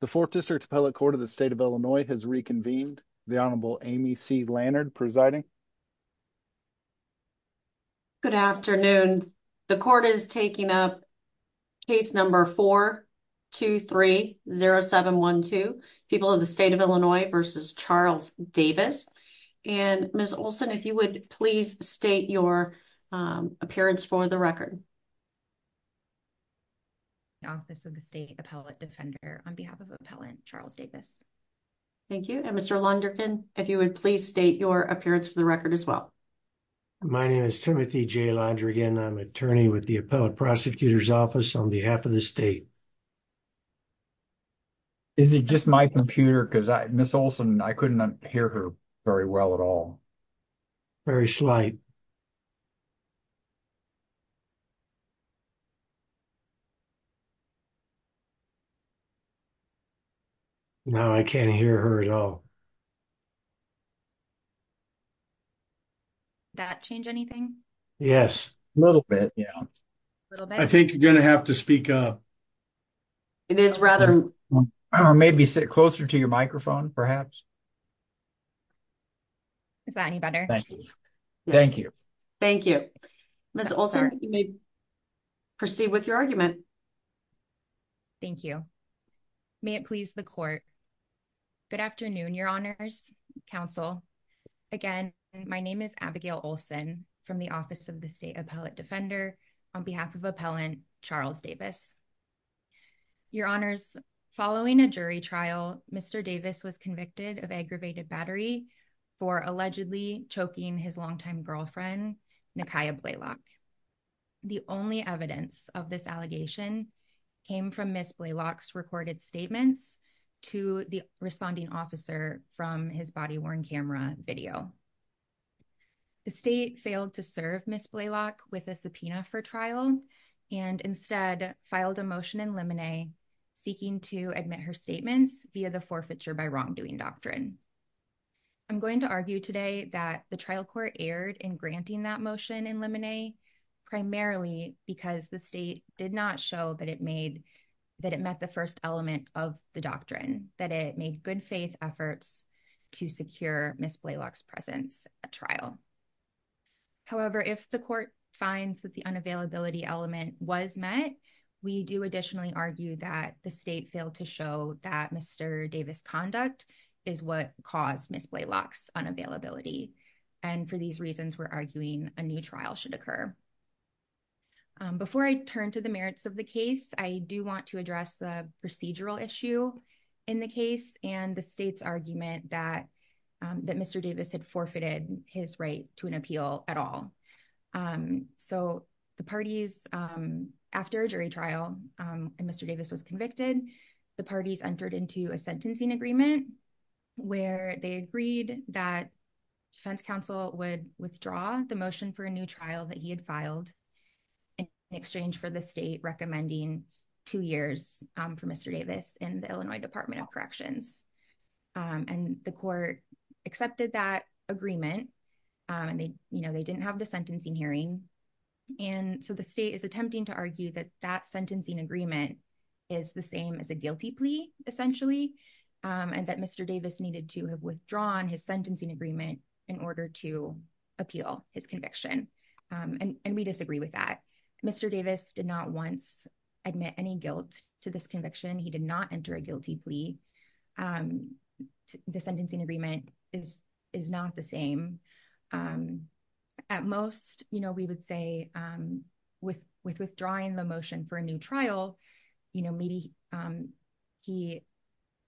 The 4th District Appellate Court of the State of Illinois has reconvened. The Honorable Amy C. Lannard presiding. Good afternoon. The court is taking up. Case number 4, 2, 3, 0, 7, 1, 2 people in the state of Illinois versus Charles Davis and Ms. Olson, if you would please state your appearance for the record. Office of the State Appellate Defender on behalf of appellant Charles Davis. Thank you. And Mr. Lunderkin, if you would please state your appearance for the record as well. My name is Timothy J. Lunderkin. I'm an attorney with the appellate prosecutor's office on behalf of the state. Is it just my computer? Because Ms. Olson, I couldn't hear her very well at all. Very slight. Now, I can't hear her at all. That change anything? Yes, a little bit. Yeah. I think you're going to have to speak up. It is rather, or maybe sit closer to your microphone, perhaps. Is that any better? Thank you. Thank you. Ms. Olson, you may proceed with your argument. Thank you. May it please the court. Good afternoon. Your honors counsel again. My name is Abigail Olson from the office of the state appellate defender on behalf of appellant Charles Davis. Your honors following a jury trial, Mr. Davis was convicted of aggravated battery for allegedly choking his longtime girlfriend, Nakia Blaylock. The only evidence of this allegation came from Ms. Blaylock's recorded statements to the responding officer from his body worn camera video. The state failed to serve Ms. Blaylock with a subpoena for trial and instead filed a motion in limine seeking to admit her statements via the forfeiture by wrongdoing doctrine. I'm going to argue today that the trial court aired and granting that motion in limine. Primarily because the state did not show that it made that it met the 1st element of the doctrine that it made good faith efforts to secure Ms. Blaylock's presence at trial. However, if the court finds that the unavailability element was met, we do additionally argue that the state failed to show that Mr. Davis conduct is what caused Ms. Blaylock's unavailability. And for these reasons, we're arguing a new trial should occur. Before I turn to the merits of the case, I do want to address the procedural issue in the case and the state's argument that that Mr. Davis had forfeited his right to an appeal at all. So the parties after a jury trial and Mr. Davis was convicted, the parties entered into a sentencing agreement where they agreed that defense counsel would withdraw the motion for a new trial that he had filed. In exchange for the state recommending two years for Mr. Davis in the Illinois Department of Corrections and the court accepted that agreement. And they, you know, they didn't have the sentencing hearing. And so the state is attempting to argue that that sentencing agreement is the same as a guilty plea, essentially. And that Mr. Davis needed to have withdrawn his sentencing agreement in order to appeal his conviction and we disagree with that. Mr. Davis did not once admit any guilt to this conviction. He did not enter a guilty plea. And the sentencing agreement is not the same. At most, you know, we would say with withdrawing the motion for a new trial, you know, maybe he,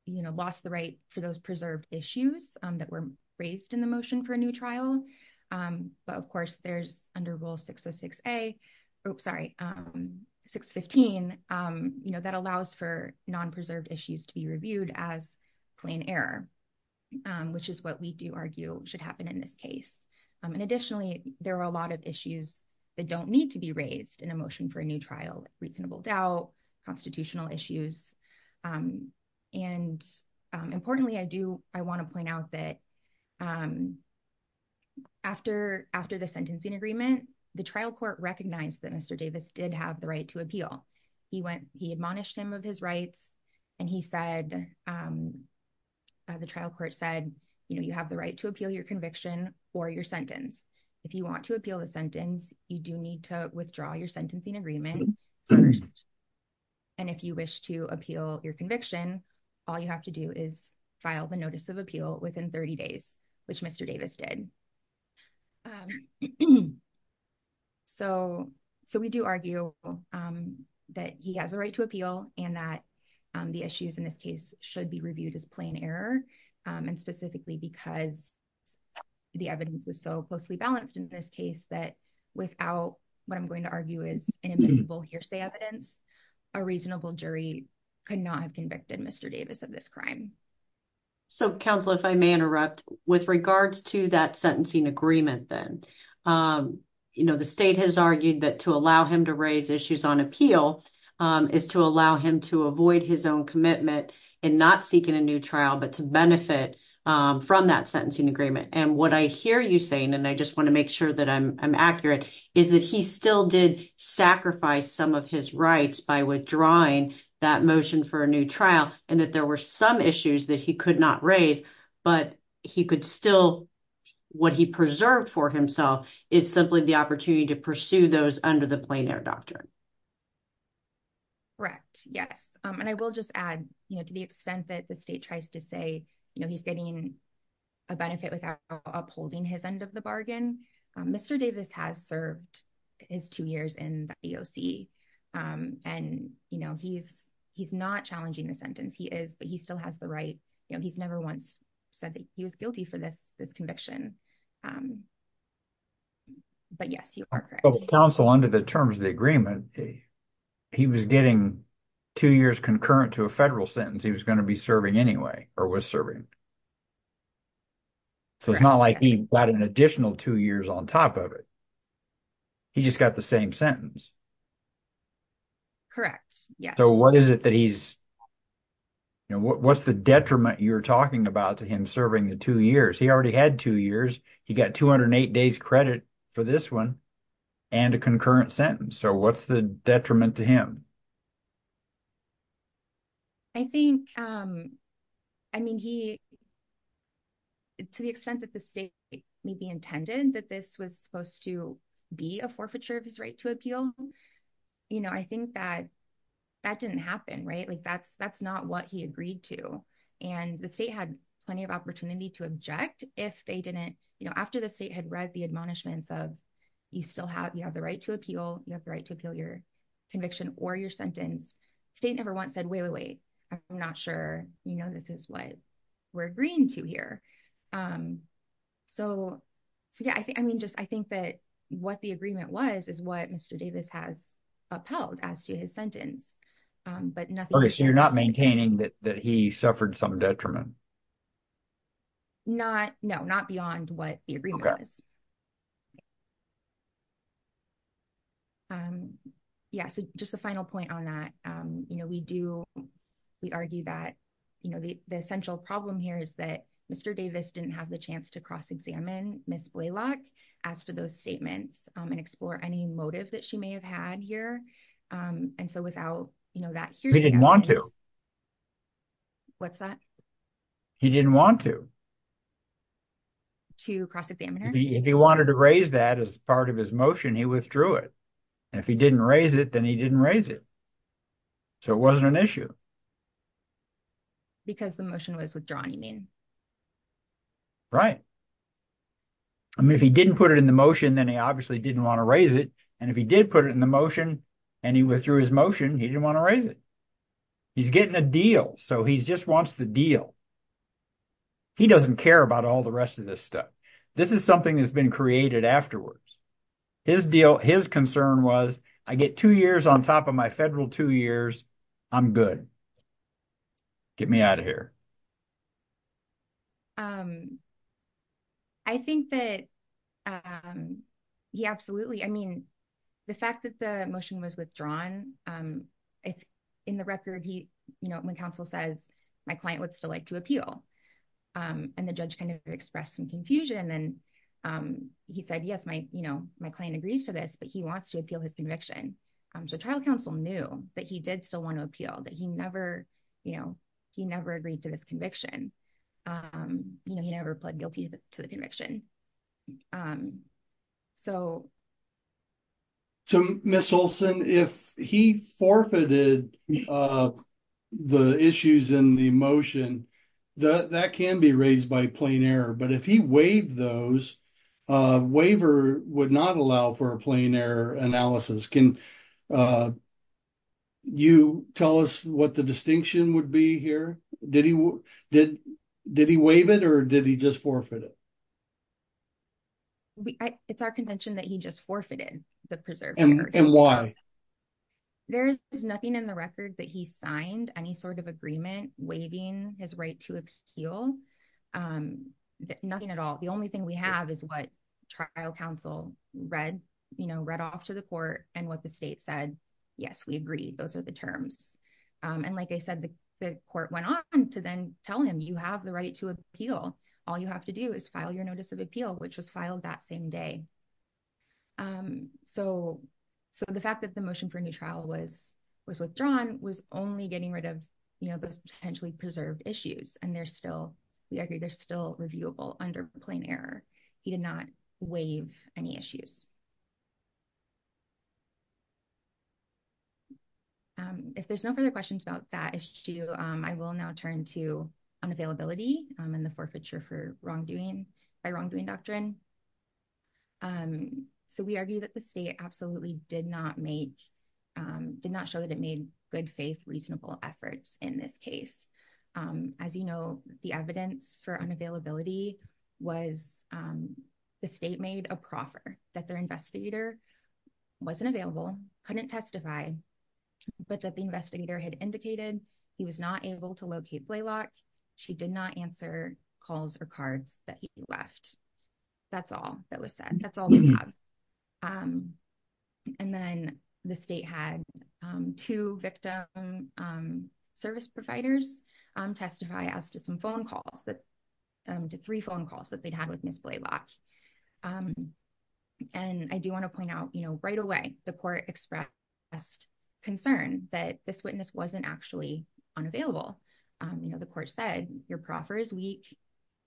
you know, lost the right for those preserved issues that were raised in the motion for a new trial. But of course, there's under Rule 606A, oops, sorry, 615, you know, that allows for non-preserved issues to be reviewed as plain error. Which is what we do argue should happen in this case. And additionally, there are a lot of issues that don't need to be raised in a motion for a new trial, reasonable doubt, constitutional issues. And importantly, I do, I want to point out that after the sentencing agreement, the trial court recognized that Mr. Davis did have the right to appeal. He went, he admonished him of his rights and he said, the trial court said, you know, you have the right to appeal your conviction or your sentence. If you want to appeal the sentence, you do need to withdraw your sentencing agreement. And if you wish to appeal your conviction, all you have to do is file the notice of appeal within 30 days, which Mr. Davis did. So, so we do argue that he has a right to appeal and that the issues in this case should be reviewed as plain error and specifically because the evidence was so closely balanced in this case that without what I'm going to argue is an invisible hearsay evidence, a reasonable jury could not have convicted Mr. Davis of this crime. So, counsel, if I may interrupt with regards to that sentencing agreement, then, you know, the state has argued that to allow him to raise issues on appeal is to allow him to avoid his own commitment and not seeking a new trial, but to benefit from that sentencing agreement. And what I hear you saying, and I just want to make sure that I'm accurate, is that he still did sacrifice some of his rights by withdrawing that motion for a new trial and that there were some issues that he could not raise, but he could still, what he preserved for himself is simply the opportunity to pursue those under the plain error doctrine. Correct. Yes. And I will just add, you know, to the extent that the state tries to say, you know, he's getting a benefit without upholding his end of the bargain, Mr. Davis has served his two years in the EOC, and, you know, he's not challenging the sentence. He is, but he still has the right, you know, he's never once said that he was guilty for this conviction. But yes, you are correct. But counsel, under the terms of the agreement, he was getting two years concurrent to a federal sentence. He was going to be serving anyway, or was serving. So it's not like he got an additional two years on top of it. He just got the same sentence. Correct. Yes. So what is it that he's, you know, what's the detriment you're talking about to him serving the two years? He already had two years. He got 208 days credit for this one and a concurrent sentence. So what's the detriment to him? I think, I mean, he, to the extent that the state may be intended that this was supposed to be a forfeiture of his right to appeal. You know, I think that that didn't happen, right? Like, that's, that's not what he agreed to. And the state had plenty of opportunity to object if they didn't, you know, after the state had read the admonishments of, you still have, you have the right to appeal, you have the right to appeal your conviction, or you have the right to appeal your sentence. State never once said, wait, wait, wait, I'm not sure, you know, this is what we're agreeing to here. So, so yeah, I think, I mean, just, I think that what the agreement was is what Mr. Davis has upheld as to his sentence. But nothing. So you're not maintaining that he suffered some detriment? Not, no, not beyond what the agreement is. Yeah, so just a final point on that. You know, we do, we argue that, you know, the essential problem here is that Mr. Davis didn't have the chance to cross-examine Ms. Blalock as to those statements and explore any motive that she may have had here. And so without, you know, that, he didn't want to. What's that? He didn't want to. To cross-examine her? If he wanted to cross-examine Ms. Blalock, if he wanted to raise that as part of his motion, he withdrew it. And if he didn't raise it, then he didn't raise it. So it wasn't an issue. Because the motion was withdrawn, you mean? Right. I mean, if he didn't put it in the motion, then he obviously didn't want to raise it. And if he did put it in the motion and he withdrew his motion, he didn't want to raise it. He's getting a deal. So he just wants the deal. He doesn't care about all the rest of this stuff. This is something that's been created afterwards. His deal, his concern was, I get two years on top of my federal two years, I'm good. Get me out of here. I think that, yeah, absolutely. I mean, the fact that the motion was withdrawn, he didn't want to appeal. And the judge kind of expressed some confusion. And he said, yes, my client agrees to this, but he wants to appeal his conviction. So trial counsel knew that he did still want to appeal, that he never agreed to this conviction. He never pled guilty to the conviction. So. So Ms. Olson, if he forfeited the issues in the motion, that can be raised by plain error. But if he waived those, a waiver would not allow for a plain error analysis. Can you tell us what the distinction would be here? Did he waive it or did he just forfeit it? We it's our contention that he just forfeited the preserve. And why? There is nothing in the record that he signed any sort of agreement waiving his right to appeal. Nothing at all. The only thing we have is what trial counsel read, you know, read off to the court and what the state said. Yes, we agree. Those are the terms. And like I said, the court went on to then tell him you have the right to appeal. All you have to do is file your notice of appeal, which was filed that same day. So so the fact that the motion for new trial was was withdrawn was only getting rid of, you know, those potentially preserved issues. And there's still we agree there's still reviewable under plain error. He did not waive any issues. If there's no further questions about that issue, I will now turn to unavailability and the forfeiture for wrongdoing by wrongdoing doctrine. And so we argue that the state absolutely did not make did not show that it made good faith reasonable efforts in this case. As you know, the evidence for unavailability was the state made a proffer that their investigator wasn't available, couldn't testify, but that the investigator had indicated he was not able to locate Blaylock. She did not answer calls or cards that he left. That's all that was said. That's all we have. And then the state had two victim service providers testify as to some phone calls that to three phone calls that they'd had with Miss Blaylock. And I do want to point out, you know, right away, the court expressed concern that this witness wasn't actually unavailable. You know, the court said your proffer is weak.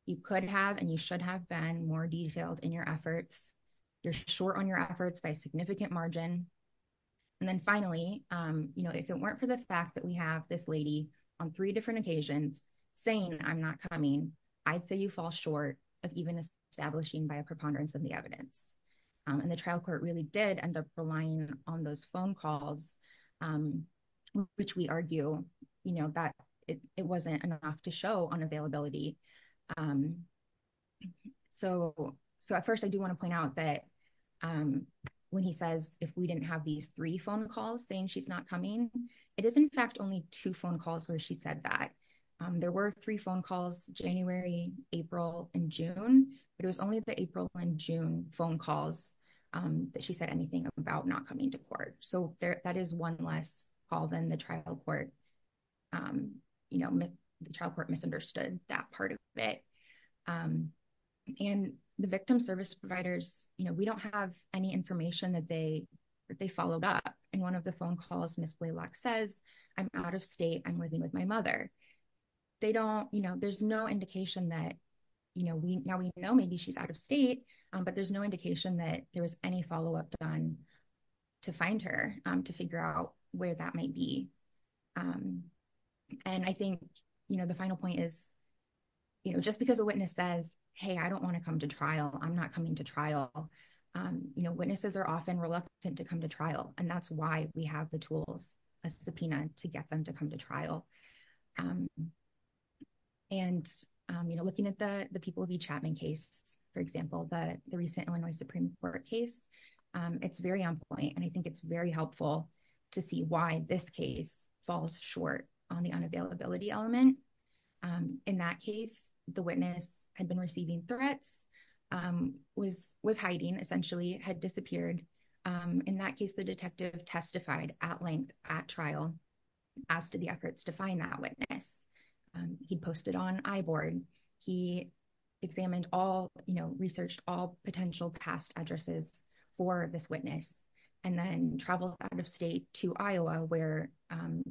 You could have and you should have been more detailed in your efforts. You're short on your efforts by significant margin. And then finally, you know, if it weren't for the fact that we have this lady on three different occasions saying I'm not coming, I'd say you fall short of even establishing by a preponderance of the evidence. And the trial court really did end up relying on those phone calls, which we argue, you know, that it wasn't enough to show unavailability. So at first, I do want to point out that when he says if we didn't have these three phone calls saying she's not coming, it is in fact only two phone calls where she said that. There were three calls, January, April and June. It was only the April and June phone calls that she said anything about not coming to court. So that is one less call than the trial court, you know, trial court misunderstood that part of it. And the victim service providers, you know, we don't have any information that they followed up. And one of the phone calls Miss Blaylock says I'm out of state. I'm living with my mother. They don't, you know, there's no indication that, you know, now we know maybe she's out of state, but there's no indication that there was any follow-up done to find her to figure out where that might be. And I think, you know, the final point is, you know, just because a witness says, hey, I don't want to come to trial. I'm not coming to trial. You know, witnesses are often reluctant to come to trial. And that's why we have the tools, a subpoena to get them to come to trial. And, you know, looking at the people of E. Chapman case, for example, the recent Illinois Supreme Court case, it's very on point. And I think it's very helpful to see why this case falls short on the unavailability element. In that case, the witness had been receiving threats, was hiding, essentially had disappeared. In that case, the detective testified at length at trial, asked the efforts to find that witness. He posted on iBoard. He examined all, you know, researched all potential past addresses for this witness, and then traveled out of state to Iowa, where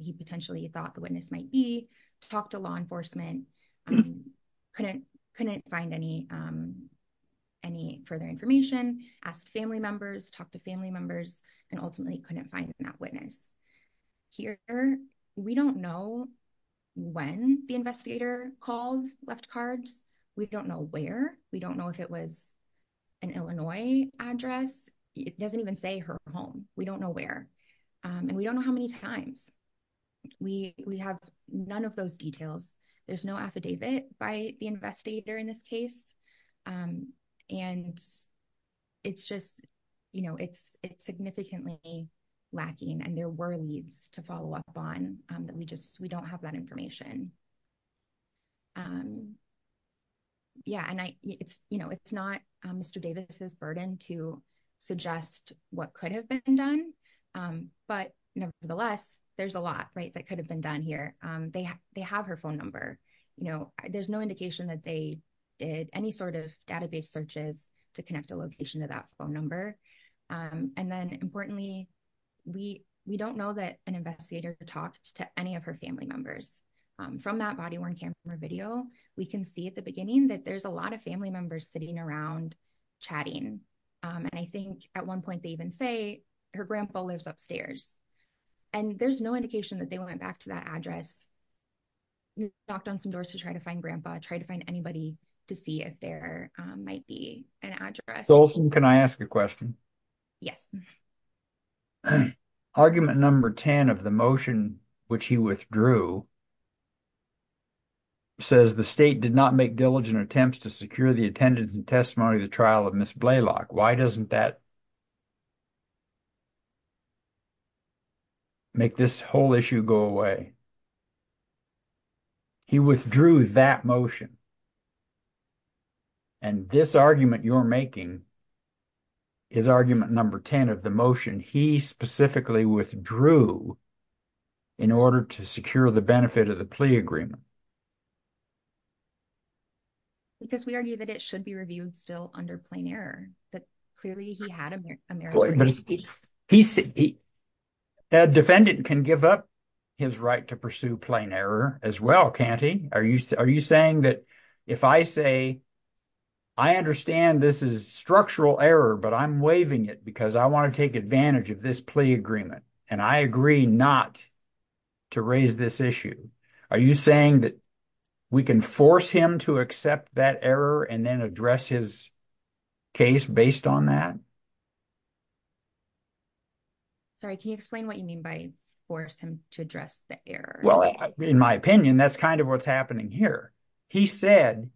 he potentially thought the witness might be, talked to law enforcement, couldn't find any further information, asked family members, talked to family members, and ultimately couldn't find that witness. Here, we don't know when the investigator called, left cards. We don't know where. We don't know if it was an Illinois address. It doesn't even say her home. We don't know where. And we don't know how many times. We have none of those details. There's no affidavit by the investigator in this case. And it's just, you know, it's significantly lacking, and there were leads to follow up on that we just, we don't have that information. Yeah, and I, it's, you know, it's not Mr. Davis's burden to suggest what could have been done. But nevertheless, there's a lot, right, that could have been done here. They have, they have her phone number. You know, there's no indication that they did any sort of database searches to connect a location to that phone number. And then importantly, we, we don't know that an investigator talked to any of her family members. From that body worn camera video, we can see at the beginning that there's a lot of family members sitting around chatting. And I think at one point, they even say her grandpa lives upstairs. And there's no indication that they went back to that address, knocked on some doors to try to find grandpa, try to find anybody to see if there might be an address. Solson, can I ask a question? Yes. Argument number 10 of the motion, which he withdrew, says the state did not make diligent attempts to secure the attendance and testimony of the trial of Ms. Blalock. Why doesn't that make this whole issue go away? He withdrew that motion. And this argument you're making is argument number 10 of the motion he specifically withdrew in order to secure the benefit of the plea agreement. Because we argue that it should be reviewed still under plain error. But clearly, he had a merit. But he said the defendant can give up his right to pursue plain error as well, can't he? Are you, are you saying that if I say, I understand this is structural error, but I'm waiving it because I want to take advantage of this plea agreement. And I agree not to raise this issue. Are you saying that we can force him to accept that error and then address his case based on that? Sorry, can you explain what you mean by force him to address the error? Well, in my opinion, that's kind of what's happening here. He said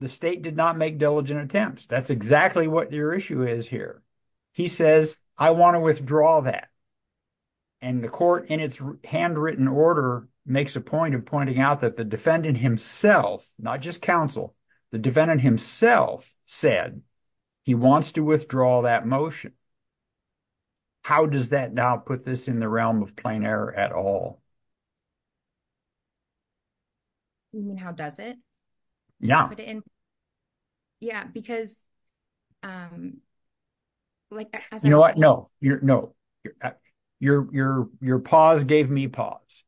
the state did not make diligent attempts. That's exactly what your issue is here. He says, I want to withdraw that. And the court in its handwritten order makes a point of pointing out that the defendant himself, not just counsel, the defendant himself said he wants to withdraw that motion. How does that now put this in the realm of plain error at all? You mean, how does it? Yeah. Yeah, because like, you know what? No, no. Your, your, your pause gave me pause.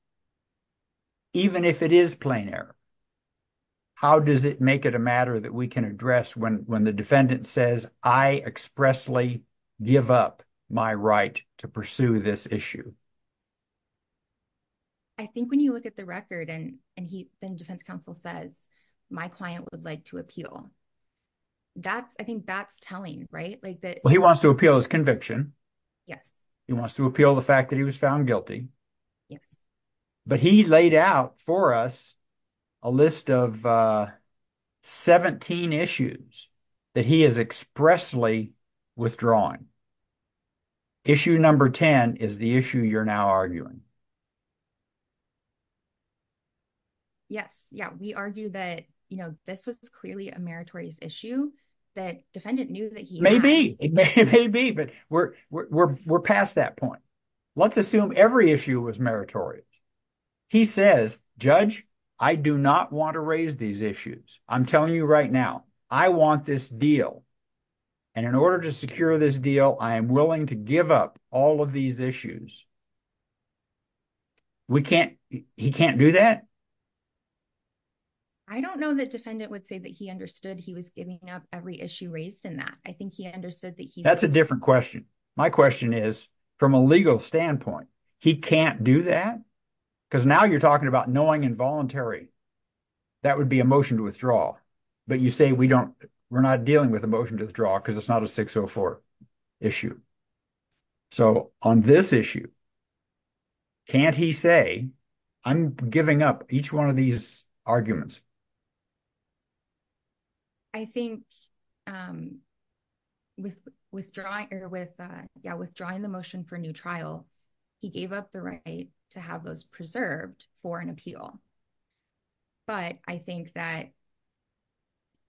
Even if it is plain error, how does it make it a matter that we can address when, when the defendant says, I expressly give up my right to pursue this issue? I think when you look at the record and, and he, then defense counsel says, my client would like to appeal. That's, I think that's telling, right? Like that. Well, he wants to appeal his conviction. Yes. He wants to appeal the fact that he was found guilty. Yes. But he laid out for us a list of 17 issues that he is expressly withdrawing. Issue number 10 is the issue you're now arguing. Yes. Yeah. We argue that, you know, this was clearly a meritorious issue that defendant knew that he may be, it may be, but we're, we're, we're, we're past that point. Let's assume every issue was meritorious. He says, judge, I do not want to raise these issues. I'm telling you right now, I want this deal. And in order to secure this deal, I am willing to give up all of these issues. We can't, he can't do that. I don't know that defendant would say that he understood he was giving up every issue raised in that. I think he understood that. That's a different question. My question is from a legal standpoint, he can't do that because now you're talking about knowing involuntary. That would be a motion to withdraw, but you say we don't, we're not dealing with a motion to withdraw because it's not a 604 issue. So on this issue, can't he say, I'm giving up each one of these arguments. I think with withdrawing or with, yeah, withdrawing the motion for new trial, he gave up the right to have those preserved for an appeal. But I think that,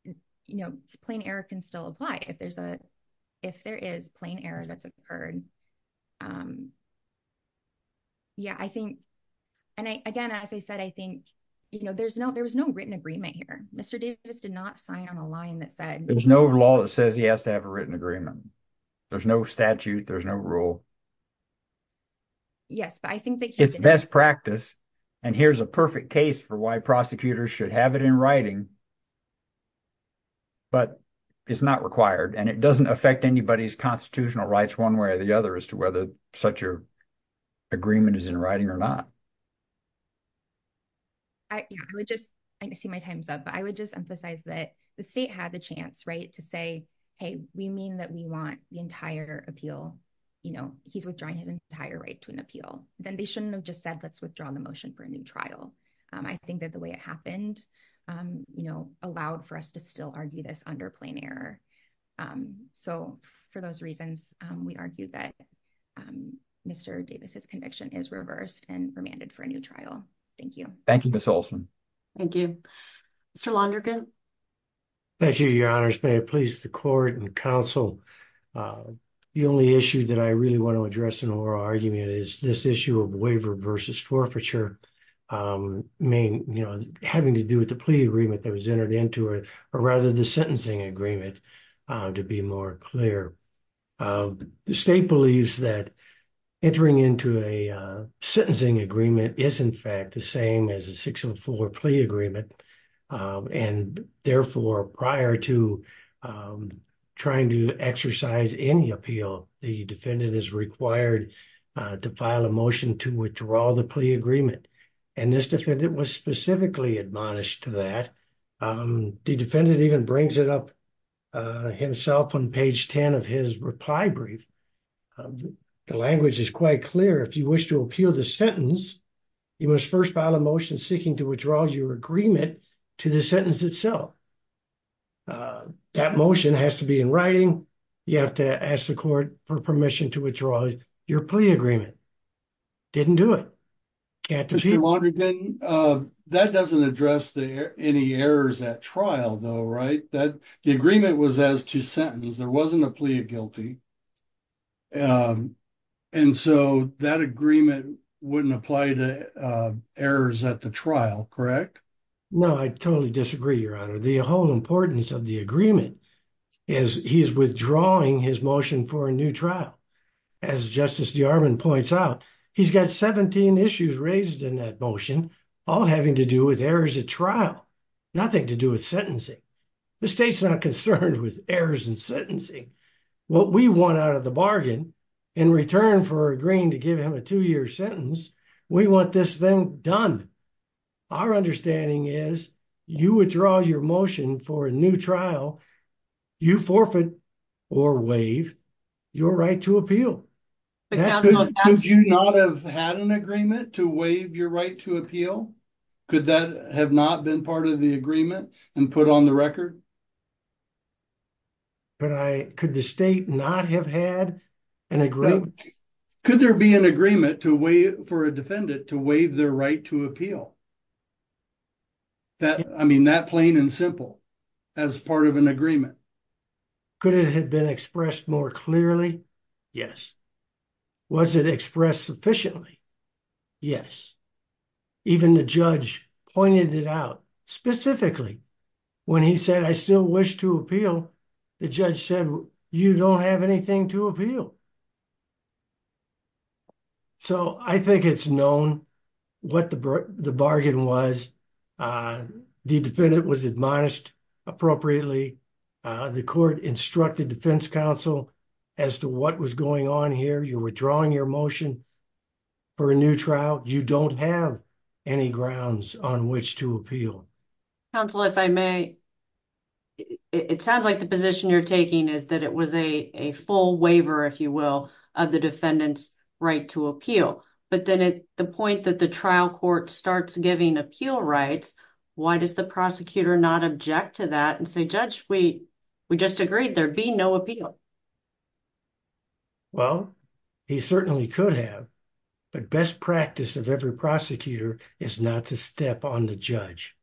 you know, plain error can still apply if there's a, if there is plain error that's occurred. Yeah, I think, and I, again, as I said, I think, you know, there's no, there was no written agreement here. Mr. Davis did not sign on a line that said, there's no law that says he has to have a written agreement. There's no statute. There's no rule. Yes, but I think that it's best practice. And here's a perfect case for why prosecutors should have it in writing, but it's not required and it doesn't affect anybody's constitutional rights one way or the other as to whether such a agreement is in writing or not. I would just, I see my time's up, but I would just emphasize that the state had the chance, to say, hey, we mean that we want the entire appeal, you know, he's withdrawing his entire right to an appeal. Then they shouldn't have just said, let's withdraw the motion for a new trial. I think that the way it happened, you know, allowed for us to still argue this under plain error. So for those reasons, we argue that Mr. Davis's conviction is reversed and remanded for a new trial. Thank you. Thank you, Ms. Olson. Thank you. Mr. Londergan. Thank you, your honors. May it please the court and counsel, the only issue that I really want to address in oral argument is this issue of waiver versus forfeiture. I mean, you know, having to do with the plea agreement that was entered into it, or rather the sentencing agreement to be more clear. The state believes that entering into a sentencing agreement is in fact the same as a 604 plea agreement. And therefore prior to trying to exercise any appeal, the defendant is required to file a motion to withdraw the plea agreement. And this defendant was specifically admonished to that. The defendant even brings it himself on page 10 of his reply brief. The language is quite clear. If you wish to appeal the sentence, you must first file a motion seeking to withdraw your agreement to the sentence itself. That motion has to be in writing. You have to ask the court for permission to withdraw your plea agreement. Didn't do it. Mr. Londergan, that doesn't address any errors at trial though, right? The agreement was as to sentence. There wasn't a plea of guilty. And so that agreement wouldn't apply to errors at the trial, correct? No, I totally disagree, your honor. The whole importance of the agreement is he's withdrawing his motion for a new trial. As Justice DeArmond points out, he's got 17 issues raised in that motion, all having to do with errors at trial, nothing to do with sentencing. The state's not concerned with errors in sentencing. What we want out of the bargain in return for agreeing to give him a two-year sentence, we want this thing done. Our understanding is you withdraw your motion for a new trial, you forfeit or waive your right to appeal. Could you not have had an agreement to waive your right to appeal? Could that have not been part of the agreement and put on the record? Could the state not have had an agreement? Could there be an agreement for a defendant to waive their right to appeal? I mean, that plain and simple as part of an agreement. Could it have been expressed more clearly? Yes. Was it expressed sufficiently? Yes. Even the judge pointed it out specifically when he said, I still wish to appeal. The judge said, you don't have anything to appeal. So I think it's known what the bargain was. The defendant was admonished appropriately. The court instructed defense counsel as to what was going on here. You're withdrawing your motion for a new trial. You don't have any grounds on which to appeal. Counsel, if I may, it sounds like the position you're taking is that it was a full waiver, if you will, of the defendant's right to appeal. But then at the point that the trial court starts giving appeal rights, why does the prosecutor not object to that and say, judge, we just agreed there'd be no appeal? Well, he certainly could have. But best practice of every prosecutor is not to step on the judge.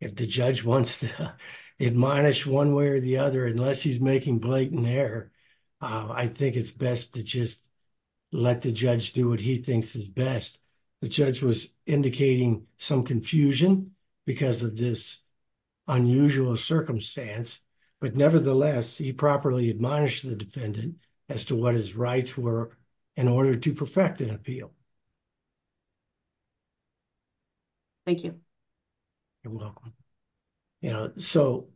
If the judge wants to admonish one way or the other, unless he's making blatant error, I think it's best to just let the judge do what he thinks is best. The judge was indicating some confusion because of this unusual circumstance, but nevertheless, he properly admonished the defendant as to what his rights were in order to perfect an appeal. Thank you. You're welcome. So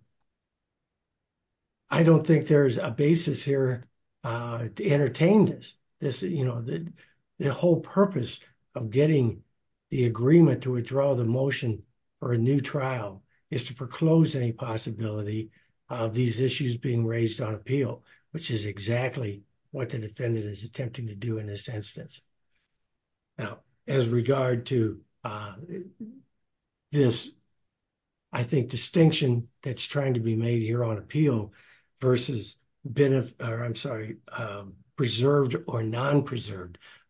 I don't think there's a basis here to entertain this. You know, the whole purpose of getting the agreement to withdraw the motion for a new trial is to proclose any possibility of these issues being raised on appeal, which is exactly what the defendant is attempting to do in this instance. Now, as regard to this, I think,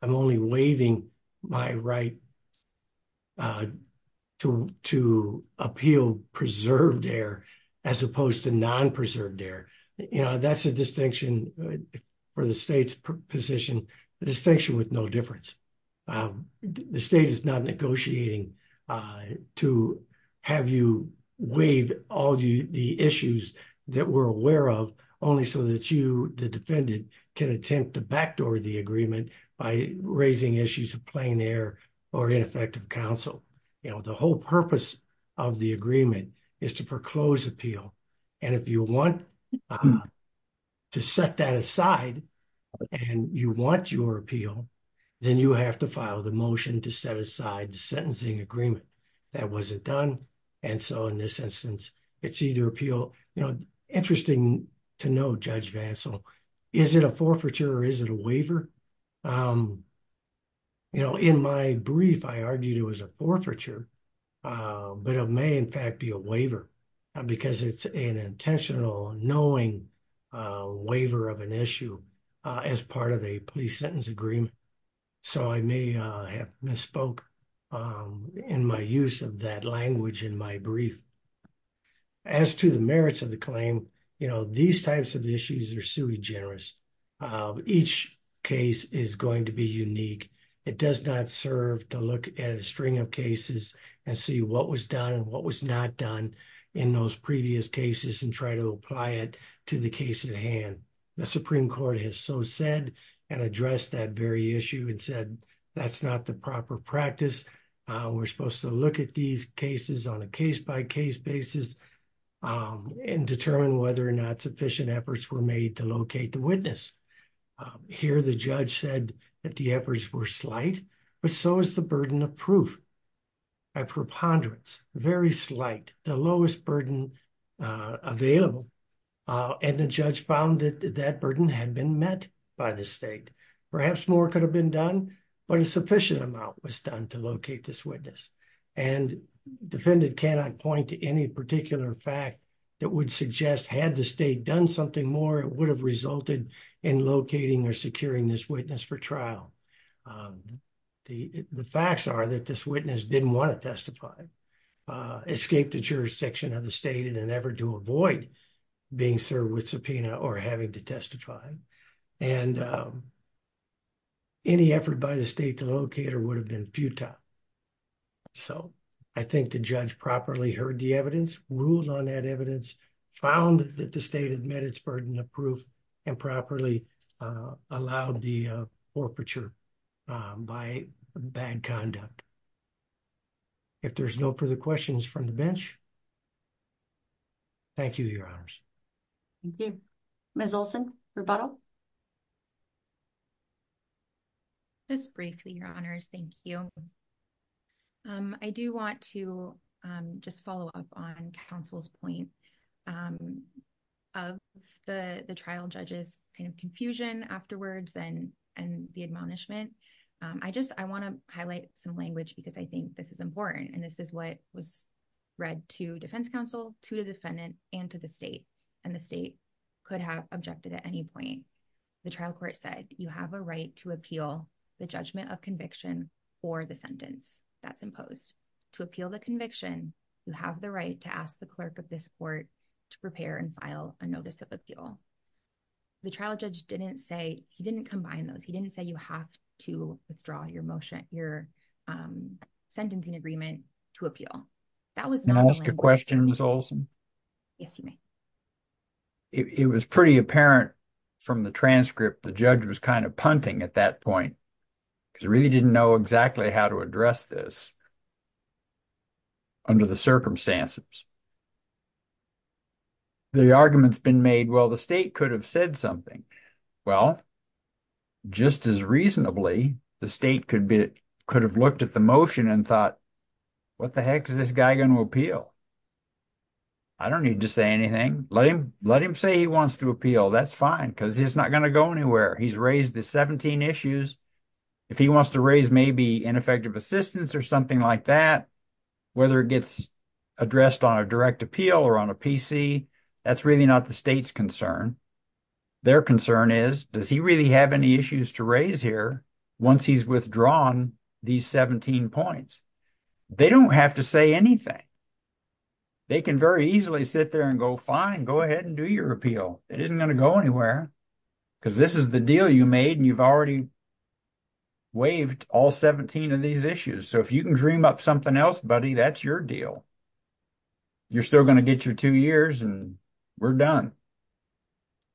I'm only waiving my right to appeal preserved error as opposed to non-preserved error. You know, that's a distinction for the state's position, a distinction with no difference. The state is not negotiating to have you waive all the issues that we're aware of, only so that you, the defendant, can attempt to backdoor the agreement by raising issues of plain error or ineffective counsel. You know, the whole purpose of the agreement is to proclose appeal. And if you want to set that aside and you want your appeal, then you have to file the motion to set aside the sentencing agreement. That wasn't done. And so in this instance, it's either appeal, you know, interesting to know, Judge Vancell, is it a forfeiture or is it a waiver? You know, in my brief, I argued it was a forfeiture, but it may in fact be a waiver because it's an intentional knowing waiver of an issue as part of a police sentence agreement. So I may have misspoke in my use of that language in my brief. As to the merits of the claim, you know, these types of issues are sui generis. Each case is going to be unique. It does not serve to look at a string of cases and see what was done and what was not done in those previous cases and try to apply it to the case at hand. The Supreme Court has so said and addressed that very issue and said that's not the proper practice. We're supposed to look at these cases on a case-by-case basis and determine whether or not sufficient efforts were made to locate the witness. Here, the judge said that the efforts were slight, but so is the burden of proof. A preponderance, very slight, the lowest burden available. And the judge found that that burden had been met by the state. Perhaps more could have been done, but a sufficient amount was done to locate this witness. And defendant cannot point to any particular fact that would suggest had the state done something more, it would have resulted in locating or securing this witness for trial. The facts are that this witness didn't want to be served with subpoena or having to testify. And any effort by the state to locate her would have been futile. So, I think the judge properly heard the evidence, ruled on that evidence, found that the state had met its burden of proof, and properly allowed the forfeiture by bad conduct. If there's no further questions from the bench, thank you, Your Honors. Thank you. Ms. Olson, rebuttal? Just briefly, Your Honors, thank you. I do want to just follow up on counsel's point of the trial judge's confusion afterwards and the admonishment. I want to highlight some language because I think this is important. And this is what was read to defense counsel, to the defendant, and to the state. And the state could have objected at any point. The trial court said, you have a right to appeal the judgment of conviction for the sentence that's imposed. To appeal the conviction, you have the right to ask the clerk of this court to prepare and file a notice of appeal. The trial judge didn't say, he didn't combine those. He didn't say you have to withdraw your motion, your sentencing agreement to appeal. Can I ask a question, Ms. Olson? Yes, you may. It was pretty apparent from the transcript, the judge was kind of punting at that point because he really didn't know exactly how to address this under the circumstances. The argument's been made, well, the state could have said something. Well, just as reasonably, the state could have looked at the motion and thought, what the heck is this guy going to appeal? I don't need to say anything. Let him say he wants to appeal. That's fine because he's not going to go anywhere. He's raised the 17 issues. If he wants to raise maybe ineffective assistance or something like that, whether it gets addressed on a direct appeal or on a PC, that's really not the state's concern. Their concern is, does he really have any issues to raise here once he's withdrawn these 17 points? They don't have to say anything. They can very easily sit there and go, fine, go ahead and do your appeal. It isn't going to go anywhere because this is the deal you made and you've already waived all 17 of these issues. So if you can dream up something else, buddy, that's your deal. You're still going to get your two years and we're done.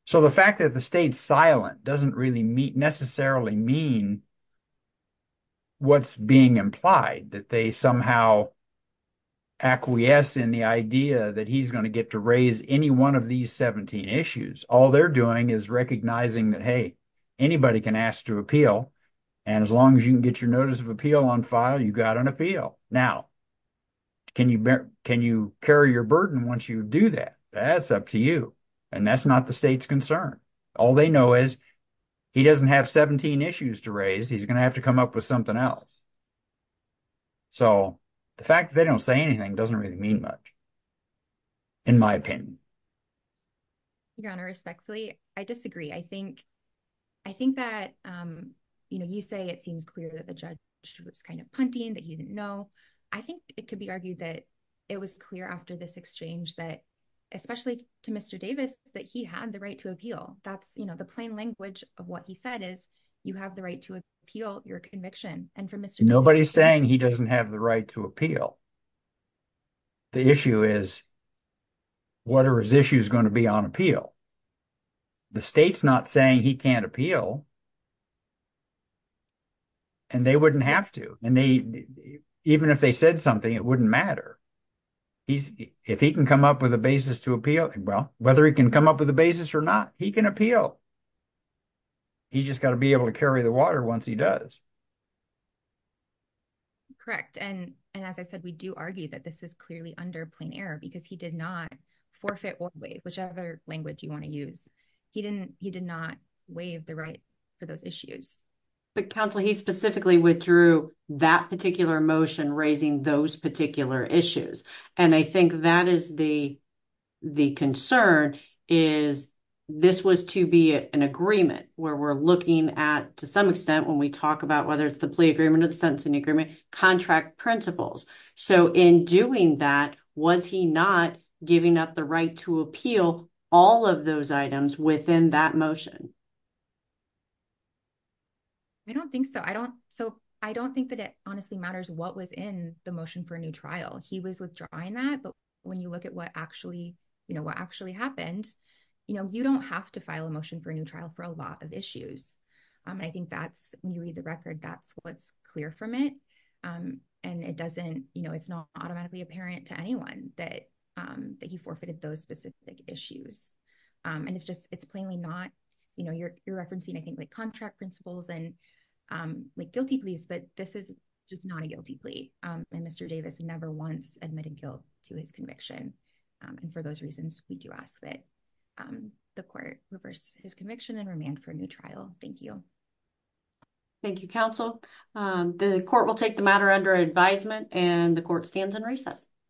So the fact that the state's silent doesn't really necessarily mean what's being implied, that they somehow acquiesce in the idea that he's going to get to raise any one of these 17 issues. All they're doing is recognizing that, hey, anybody can ask to appeal. And as long as you can get your notice of appeal on file, you've got an appeal. Now, can you carry your burden once you do that? That's up to you. And that's not the state's concern. All they know is he doesn't have 17 issues to raise. He's going to have to come up with something else. So the fact that they don't say anything doesn't really mean much, in my opinion. Your Honor, respectfully, I disagree. I think that you say it seems clear that the judge was kind of punting, that he didn't know. I think it could be argued that it was clear after this exchange that, especially to Mr. Davis, that he had the right to appeal. That's the plain language of what he said, is you have the right to appeal your conviction. And for Mr. Davis— Nobody's saying he doesn't have the right to appeal. The issue is, what are his issues going to be on appeal? The state's not saying he can't appeal, and they wouldn't have to. And even if they said something, it wouldn't matter. If he can come up with a basis to appeal, well, whether he can come up with a basis or not, he can appeal. He's just got to be able to carry the water once he does. Correct. And as I said, we do argue that this is clearly under plain error because he did not forfeit or waive, whichever language you want to use. He did not waive the right for those issues. But counsel, he specifically withdrew that particular motion raising those particular issues. And I think that is the concern, is this was to be an agreement where we're looking at, to some extent, when we talk about whether it's the plea agreement or the sentencing agreement, contract principles. So in doing that, was he not giving up the right to appeal all of those items within that motion? I don't think so. I don't think that it matters what was in the motion for a new trial. He was withdrawing that. But when you look at what actually happened, you don't have to file a motion for a new trial for a lot of issues. I think that's, when you read the record, that's what's clear from it. And it doesn't, it's not automatically apparent to anyone that he forfeited those specific issues. And it's just, it's plainly not, you're referencing, I think, contract principles and like guilty pleas, but this is just not a guilty plea. And Mr. Davis never once admitted guilt to his conviction. And for those reasons, we do ask that the court reverse his conviction and remand for a new trial. Thank you. Thank you, counsel. The court will take the matter under advisement and the court stands in recess.